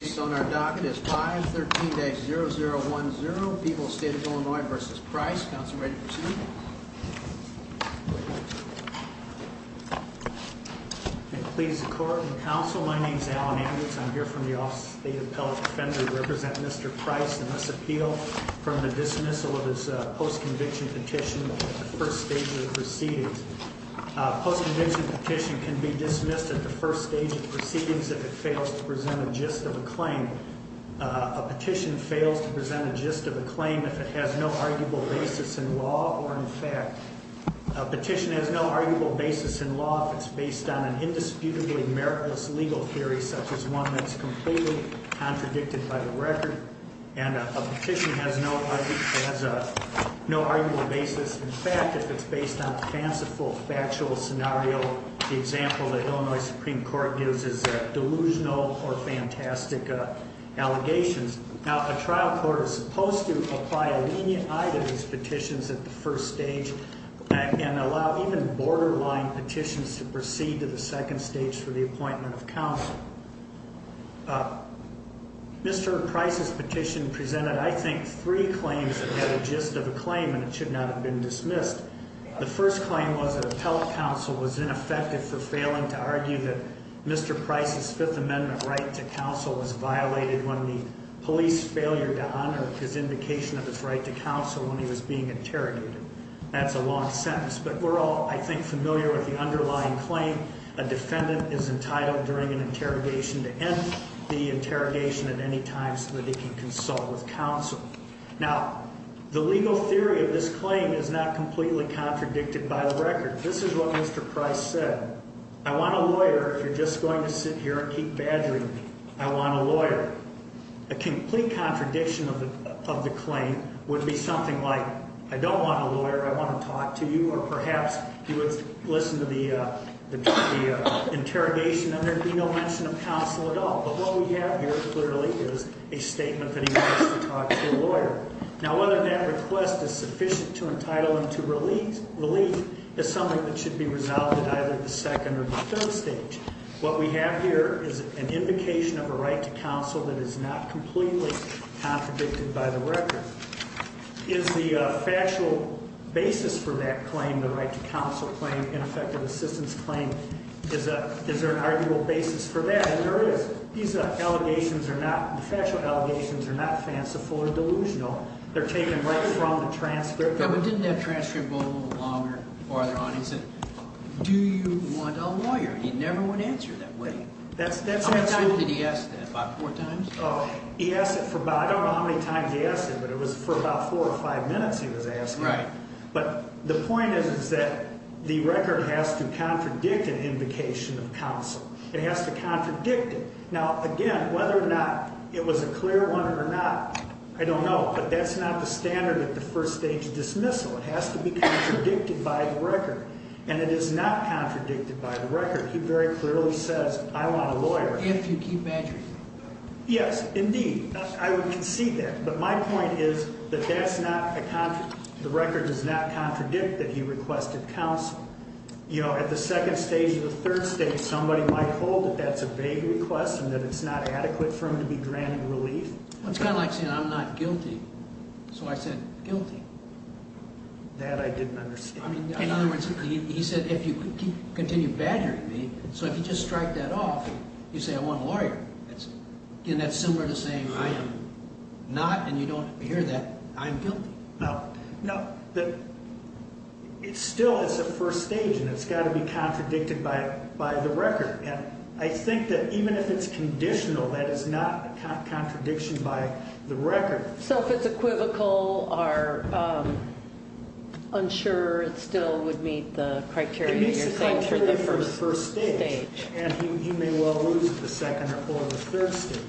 Based on our docket, it's 513-0010, People's State of Illinois v. Price. Council, ready to proceed? Please, the Court and the Council, my name is Alan Andrews. I'm here from the Office of the State Appellate Defender to represent Mr. Price in this appeal from the dismissal of his post-conviction petition at the first stage of the proceedings. Post-conviction petition can be dismissed at the first stage of the proceedings if it fails to present a gist of a claim. A petition fails to present a gist of a claim if it has no arguable basis in law or in fact. A petition has no arguable basis in law if it's based on an indisputably meritless legal theory such as one that's completely contradicted by the record. And a petition has no arguable basis in fact if it's based on fanciful factual scenario. The example the Illinois Supreme Court gives is delusional or fantastic allegations. Now, a trial court is supposed to apply a lenient eye to these petitions at the first stage and allow even borderline petitions to proceed to the second stage for the appointment of counsel. Mr. Price's petition presented, I think, three claims that had a gist of a claim and it should not have been dismissed. The first claim was that appellate counsel was ineffective for failing to argue that Mr. Price's Fifth Amendment right to counsel was violated when the police failed to honor his indication of his right to counsel when he was being interrogated. That's a long sentence, but we're all, I think, familiar with the underlying claim. A defendant is entitled during an interrogation to end the interrogation at any time so that he can consult with counsel. Now, the legal theory of this claim is not completely contradicted by the record. This is what Mr. Price said. I want a lawyer if you're just going to sit here and keep badgering me. I want a lawyer. A complete contradiction of the claim would be something like, I don't want a lawyer, I want to talk to you. Or perhaps he would listen to the interrogation and there would be no mention of counsel at all. But what we have here clearly is a statement that he wants to talk to a lawyer. Now, whether that request is sufficient to entitle him to relief is something that should be resolved at either the second or the third stage. What we have here is an indication of a right to counsel that is not completely contradicted by the record. Is the factual basis for that claim, the right to counsel claim, ineffective assistance claim, is there an arguable basis for that? Yes, there is. These allegations are not, the factual allegations are not fanciful or delusional. They're taken right from the transcript. Didn't that transcript go a little longer, farther on? He said, do you want a lawyer? He never would answer that way. How many times did he ask that, about four times? He asked it for about, I don't know how many times he asked it, but it was for about four or five minutes he was asking. Right. But the point is that the record has to contradict an indication of counsel. It has to contradict it. Now, again, whether or not it was a clear one or not, I don't know. But that's not the standard at the first stage of dismissal. It has to be contradicted by the record. And it is not contradicted by the record. He very clearly says, I want a lawyer. If you keep address. Yes, indeed. I would concede that. But my point is that that's not a, the record does not contradict that he requested counsel. You know, at the second stage or the third stage, somebody might hold that that's a vague request and that it's not adequate for him to be granted relief. It's kind of like saying, I'm not guilty. So I said, guilty. That I didn't understand. In other words, he said, if you continue badgering me, so if you just strike that off, you say, I want a lawyer. Again, that's similar to saying, I am not, and you don't hear that, I'm guilty. No, no. It's still, it's a first stage, and it's got to be contradicted by the record. And I think that even if it's conditional, that is not a contradiction by the record. So if it's equivocal or unsure, it still would meet the criteria you're saying for the first stage. It meets the criteria for the first stage. And he may well lose the second or the third stage.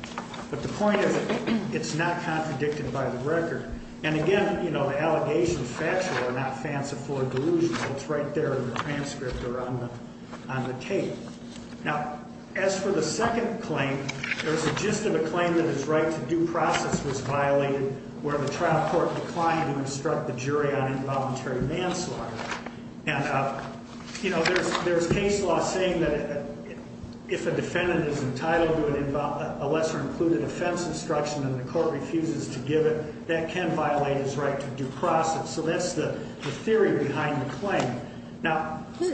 And again, the allegations factual are not fanciful or delusional. It's right there in the transcript or on the tape. Now, as for the second claim, there's a gist of a claim that his right to due process was violated where the trial court declined to instruct the jury on involuntary manslaughter. And there's case law saying that if a defendant is entitled to a lesser included offense instruction and the court refuses to give it, that can violate his right to due process. So that's the theory behind the claim. Now. Wait,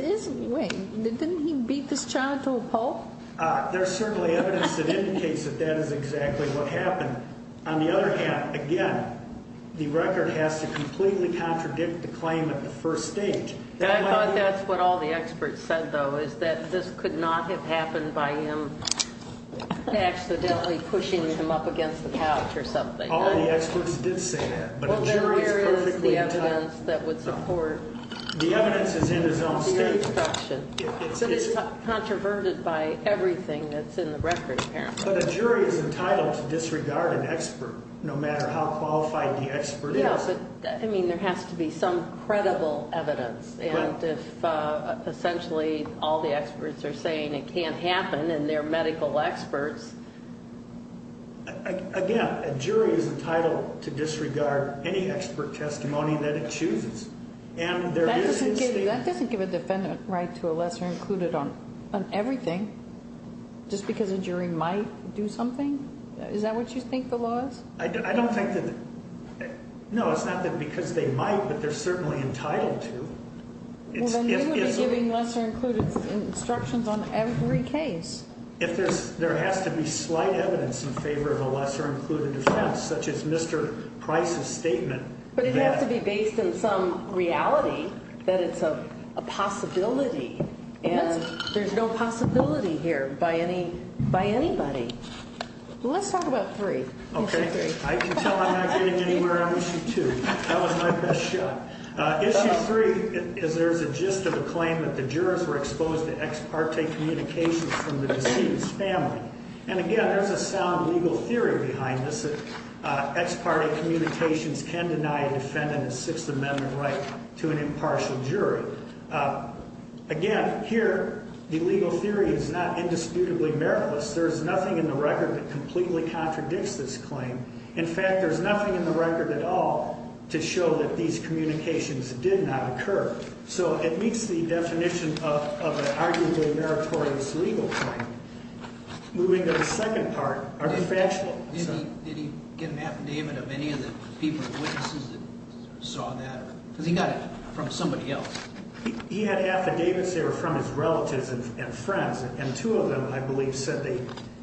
didn't he beat this child to a pulp? There's certainly evidence that indicates that that is exactly what happened. On the other hand, again, the record has to completely contradict the claim at the first stage. I thought that's what all the experts said, though, is that this could not have happened by him accidentally pushing him up against the couch or something. All the experts did say that. Well, there is the evidence that would support the instruction. The evidence is in his own state. It is controverted by everything that's in the record, apparently. But a jury is entitled to disregard an expert no matter how qualified the expert is. Yeah, but, I mean, there has to be some credible evidence. And if essentially all the experts are saying it can't happen and they're medical experts. Again, a jury is entitled to disregard any expert testimony that it chooses. That doesn't give a defendant the right to a lesser included on everything. Just because a jury might do something? Is that what you think the law is? I don't think that, no, it's not that because they might, but they're certainly entitled to. Well, then you would be giving lesser included instructions on every case. If there has to be slight evidence in favor of a lesser included offense, such as Mr. Price's statement. But it has to be based in some reality that it's a possibility. And there's no possibility here by anybody. Let's talk about three. Okay. I can tell I'm not getting anywhere on issue two. That was my best shot. Issue three is there's a gist of a claim that the jurors were exposed to ex parte communications from the deceased's family. And, again, there's a sound legal theory behind this that ex parte communications can deny a defendant a Sixth Amendment right to an impartial jury. Again, here, the legal theory is not indisputably meritless. There's nothing in the record that completely contradicts this claim. In fact, there's nothing in the record at all to show that these communications did not occur. So it meets the definition of an arguably meritorious legal claim. Moving to the second part, are they factual? Did he get an affidavit of any of the people, witnesses that saw that? Because he got it from somebody else. He had affidavits there from his relatives and friends. And two of them, I believe, said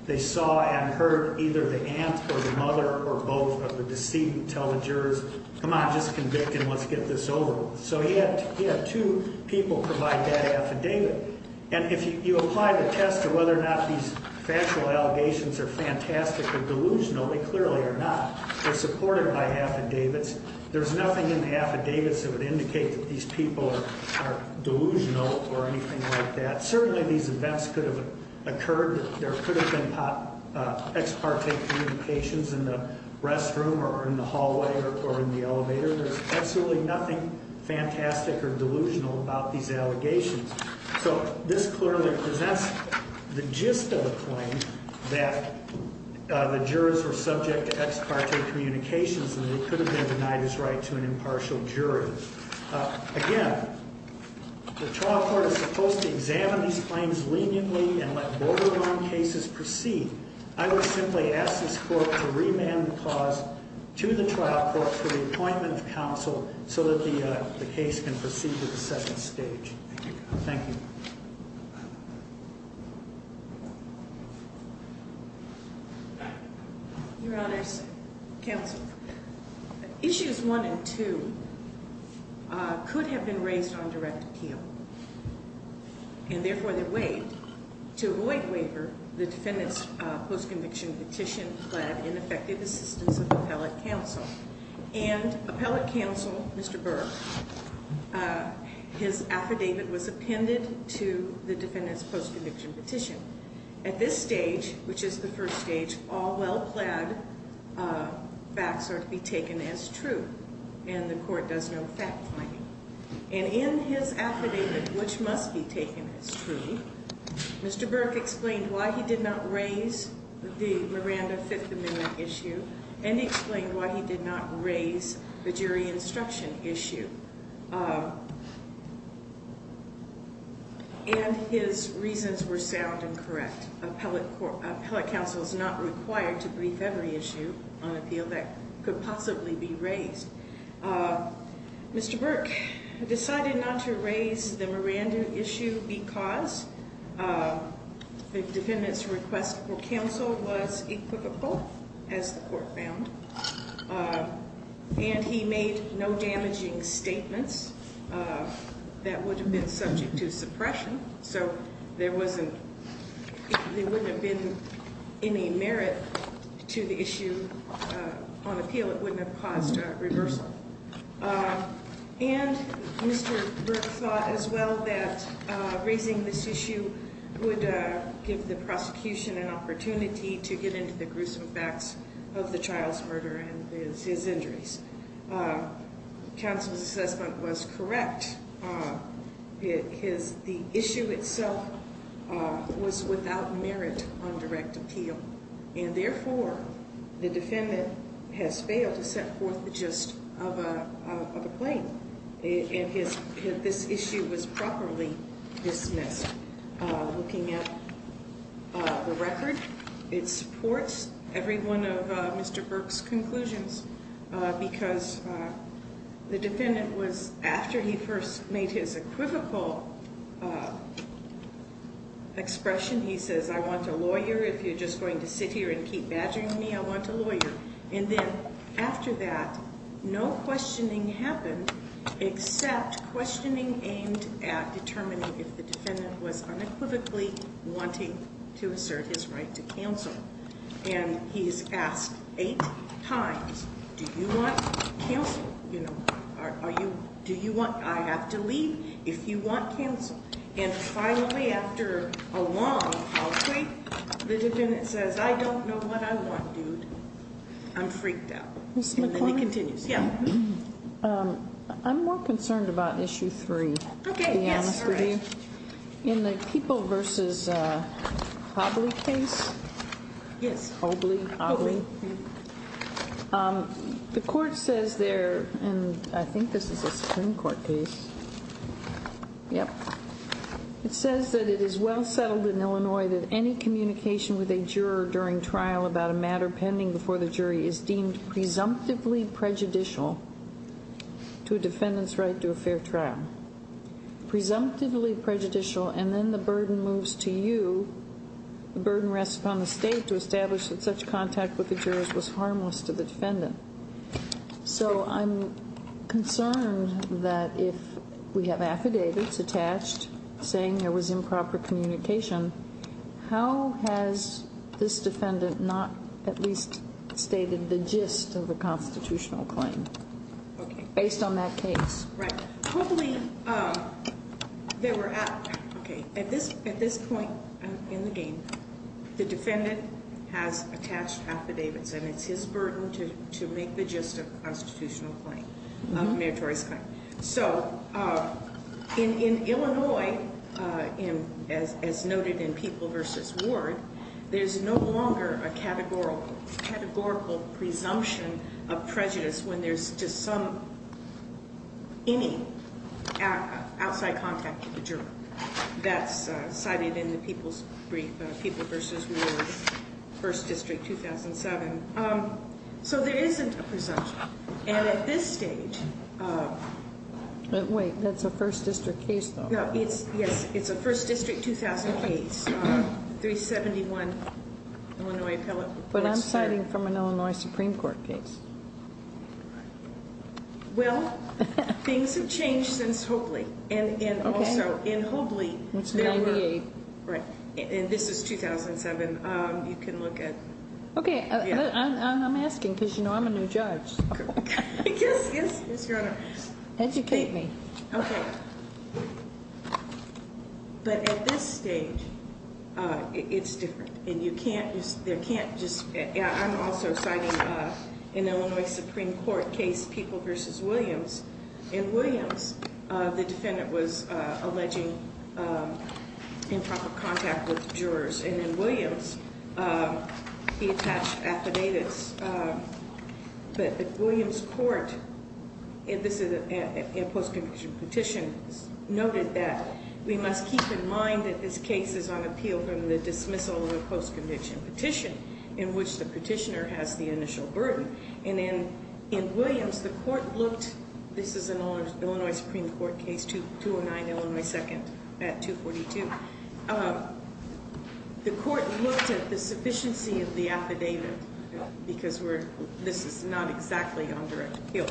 they saw and heard either the aunt or the mother or both of the decedent tell the jurors, come on, just convict him, let's get this over with. So he had two people provide that affidavit. And if you apply the test of whether or not these factual allegations are fantastic or delusional, they clearly are not. They're supported by affidavits. There's nothing in the affidavits that would indicate that these people are delusional or anything like that. Certainly, these events could have occurred. There could have been ex parte communications in the restroom or in the hallway or in the elevator. There's absolutely nothing fantastic or delusional about these allegations. So this clearly presents the gist of the claim that the jurors were subject to ex parte communications and they could have been denied his right to an impartial jury. Again, the trial court is supposed to examine these claims leniently and let borderline cases proceed. I would simply ask this court to remand the clause to the trial court for the appointment of counsel so that the case can proceed to the second stage. Thank you. Your Honors, counsel, issues one and two could have been raised on direct appeal. And therefore, they're waived. To avoid waiver, the defendant's post-conviction petition led in effective assistance of appellate counsel. And appellate counsel, Mr. Burke, his affidavit was appended to the defendant's post-conviction petition. At this stage, which is the first stage, all well-plaid facts are to be taken as true. And the court does no fact-finding. And in his affidavit, which must be taken as true, Mr. Burke explained why he did not raise the Miranda Fifth Amendment issue and explained why he did not raise the jury instruction issue. And his reasons were sound and correct. Appellate counsel is not required to brief every issue on appeal that could possibly be raised. Mr. Burke decided not to raise the Miranda issue because the defendant's request for counsel was equivocal, as the court found. And he made no damaging statements that would have been subject to suppression. So there wouldn't have been any merit to the issue on appeal. It wouldn't have caused a reversal. And Mr. Burke thought as well that raising this issue would give the prosecution an opportunity to get into the gruesome facts of the child's murder and his injuries. Counsel's assessment was correct, because the issue itself was without merit on direct appeal. And therefore, the defendant has failed to set forth the gist of a claim. And this issue was properly dismissed. Looking at the record, it supports every one of Mr. Burke's conclusions. Because the defendant was, after he first made his equivocal expression, he says, I want a lawyer. If you're just going to sit here and keep badgering me, I want a lawyer. And then after that, no questioning happened, except questioning aimed at determining if the defendant was unequivocally wanting to assert his right to counsel. And he is asked eight times, do you want counsel? You know, are you, do you want, I have to leave if you want counsel? And finally, after a long, long visit, the defendant says, I don't know what I want, dude. I'm freaked out. And he continues. Yeah. I'm more concerned about issue three. Okay. Yes, correct. In the people versus Hobley case. Yes. Hobley. Hobley. The court says there, and I think this is a Supreme Court case. Yep. It says that it is well settled in Illinois that any communication with a juror during trial about a matter pending before the jury is deemed presumptively prejudicial to a defendant's right to a fair trial. Presumptively prejudicial, and then the burden moves to you. The burden rests upon the state to establish that such contact with the jurors was harmless to the defendant. So I'm concerned that if we have affidavits attached saying there was improper communication, how has this defendant not at least stated the gist of the constitutional claim? Okay. Based on that case. Right. Hobley, they were at, okay, at this point in the game, the defendant has attached affidavits, and it's his burden to make the gist of the constitutional claim. So in Illinois, as noted in People v. Ward, there's no longer a categorical presumption of prejudice when there's just some, any outside contact with the juror. That's cited in the People's Brief, People v. Ward, 1st District, 2007. So there isn't a presumption. And at this stage. Wait, that's a 1st District case, though. No, it's, yes, it's a 1st District, 2008, 371 Illinois appellate report. But I'm citing from an Illinois Supreme Court case. Well, things have changed since Hobley. And also, in Hobley. It's 98. Right. And this is 2007. You can look at. Okay, I'm asking because, you know, I'm a new judge. Yes, yes, yes, Your Honor. Educate me. Okay. But at this stage, it's different. And you can't just, there can't just, I'm also citing an Illinois Supreme Court case, People v. Williams. In Williams, the defendant was alleging improper contact with jurors. And in Williams, he attached affidavits. But the Williams court, this is a post-conviction petition, noted that we must keep in mind that this case is on appeal from the dismissal of a post-conviction petition in which the petitioner has the initial burden. And in Williams, the court looked, this is an Illinois Supreme Court case, 209 Illinois 2nd at 242. The court looked at the sufficiency of the affidavit, because this is not exactly on direct appeal,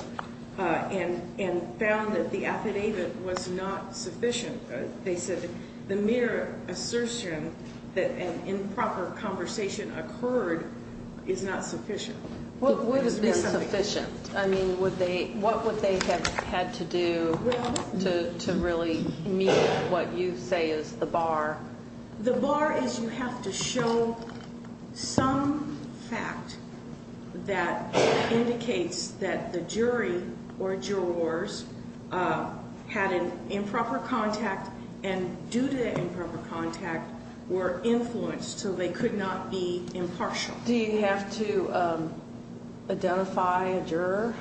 and found that the affidavit was not sufficient. They said the mere assertion that an improper conversation occurred is not sufficient. What would have been sufficient? I mean, what would they have had to do to really meet what you say is the bar? The bar is you have to show some fact that indicates that the jury or jurors had an improper contact and due to improper contact were influenced, so they could not be impartial. Do you have to identify a juror?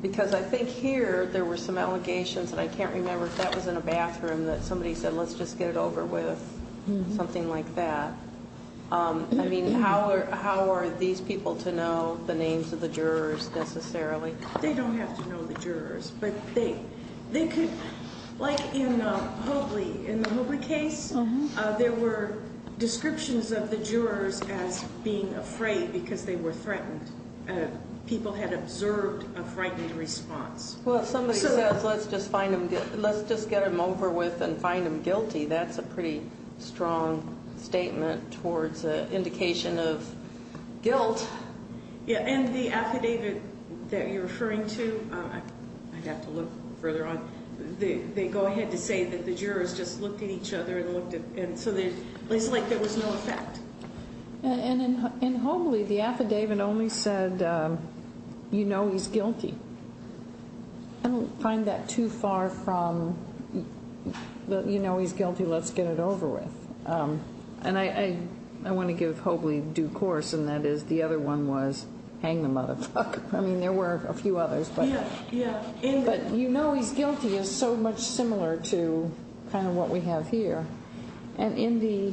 Because I think here there were some allegations, and I can't remember if that was in a bathroom, that somebody said, let's just get it over with, something like that. I mean, how are these people to know the names of the jurors necessarily? They don't have to know the jurors. Like in the Hobley case, there were descriptions of the jurors as being afraid because they were threatened. People had observed a frightened response. Well, if somebody says, let's just get them over with and find them guilty, that's a pretty strong statement towards an indication of guilt. And the affidavit that you're referring to, I'd have to look further on, they go ahead to say that the jurors just looked at each other and looked at, and so it's like there was no effect. And in Hobley, the affidavit only said, you know he's guilty. I don't find that too far from, you know he's guilty, let's get it over with. And I want to give Hobley due course, and that is the other one was, hang the motherfucker. I mean, there were a few others, but you know he's guilty is so much similar to kind of what we have here. And in the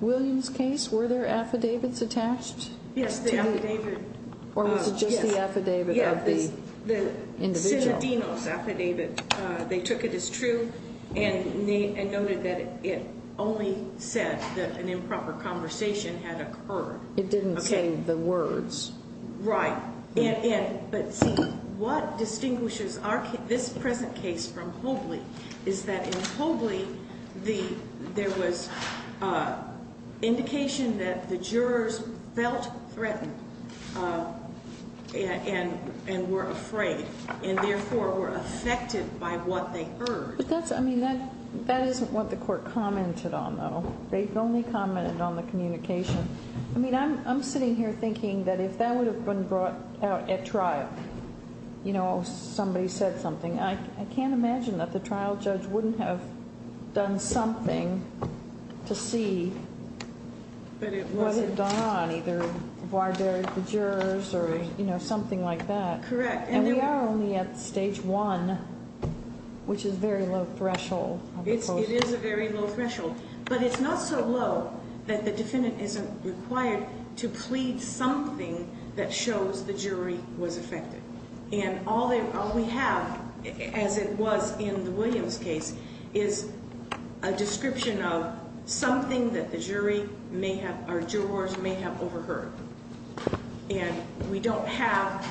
Williams case, were there affidavits attached? Yes, the affidavit. Or was it just the affidavit of the individual? It's in the Denos affidavit. They took it as true and noted that it only said that an improper conversation had occurred. It didn't say the words. Right. But see, what distinguishes this present case from Hobley is that in Hobley, there was indication that the jurors felt threatened and were afraid. And therefore were affected by what they heard. But that's, I mean, that isn't what the court commented on, though. They only commented on the communication. I mean, I'm sitting here thinking that if that would have been brought out at trial, you know, somebody said something, I can't imagine that the trial judge wouldn't have done something to see what had gone on, either why they're the jurors or, you know, something like that. Correct. And we are only at stage one, which is a very low threshold. It is a very low threshold. But it's not so low that the defendant isn't required to plead something that shows the jury was affected. And all we have, as it was in the Williams case, is a description of something that the jurors may have overheard. And we don't have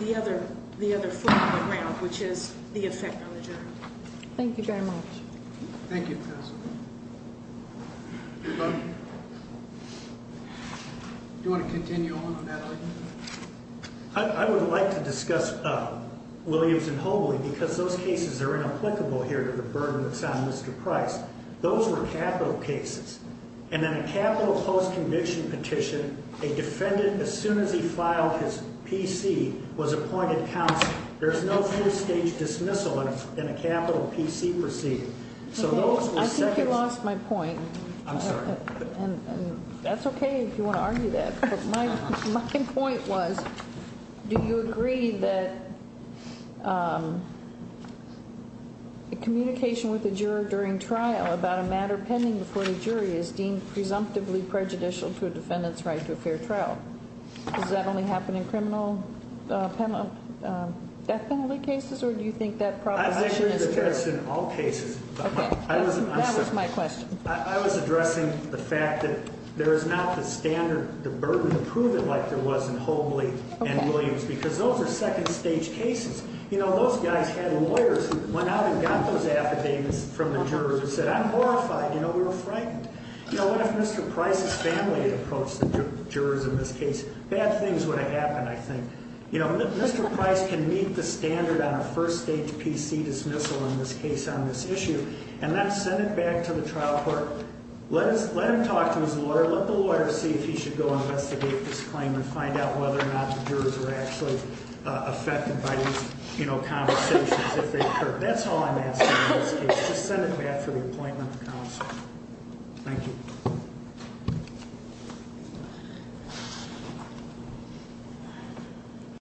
the other form of the ground, which is the effect on the jury. Thank you very much. Thank you, Professor. Anybody? Do you want to continue on on that? I would like to discuss Williams and Hobley because those cases are inapplicable here to the burden that's on Mr. Price. Those were capital cases. And in a capital post-conviction petition, a defendant, as soon as he filed his PC, was appointed counsel. There is no first-stage dismissal in a capital PC proceeding. I think you lost my point. I'm sorry. That's okay if you want to argue that. My point was, do you agree that communication with the juror during trial about a matter pending before the jury is deemed presumptively prejudicial to a defendant's right to a fair trial? Does that only happen in criminal death penalty cases, or do you think that proposition is true? I agree with that in all cases. That was my question. I was addressing the fact that there is not the standard, the burden to prove it like there was in Hobley and Williams because those are second-stage cases. You know, those guys had lawyers who went out and got those affidavits from the jurors and said, I'm horrified. You know, we were frightened. You know, what if Mr. Price's family had approached the jurors in this case? Bad things would have happened, I think. You know, Mr. Price can meet the standard on a first-stage PC dismissal in this case on this issue, and then send it back to the trial court. Let him talk to his lawyer. Let the lawyer see if he should go investigate this claim and find out whether or not the jurors were actually affected by these, you know, conversations if they occurred. That's all I'm asking in this case. Just send it back for the appointment of counsel. Thank you. Thank you.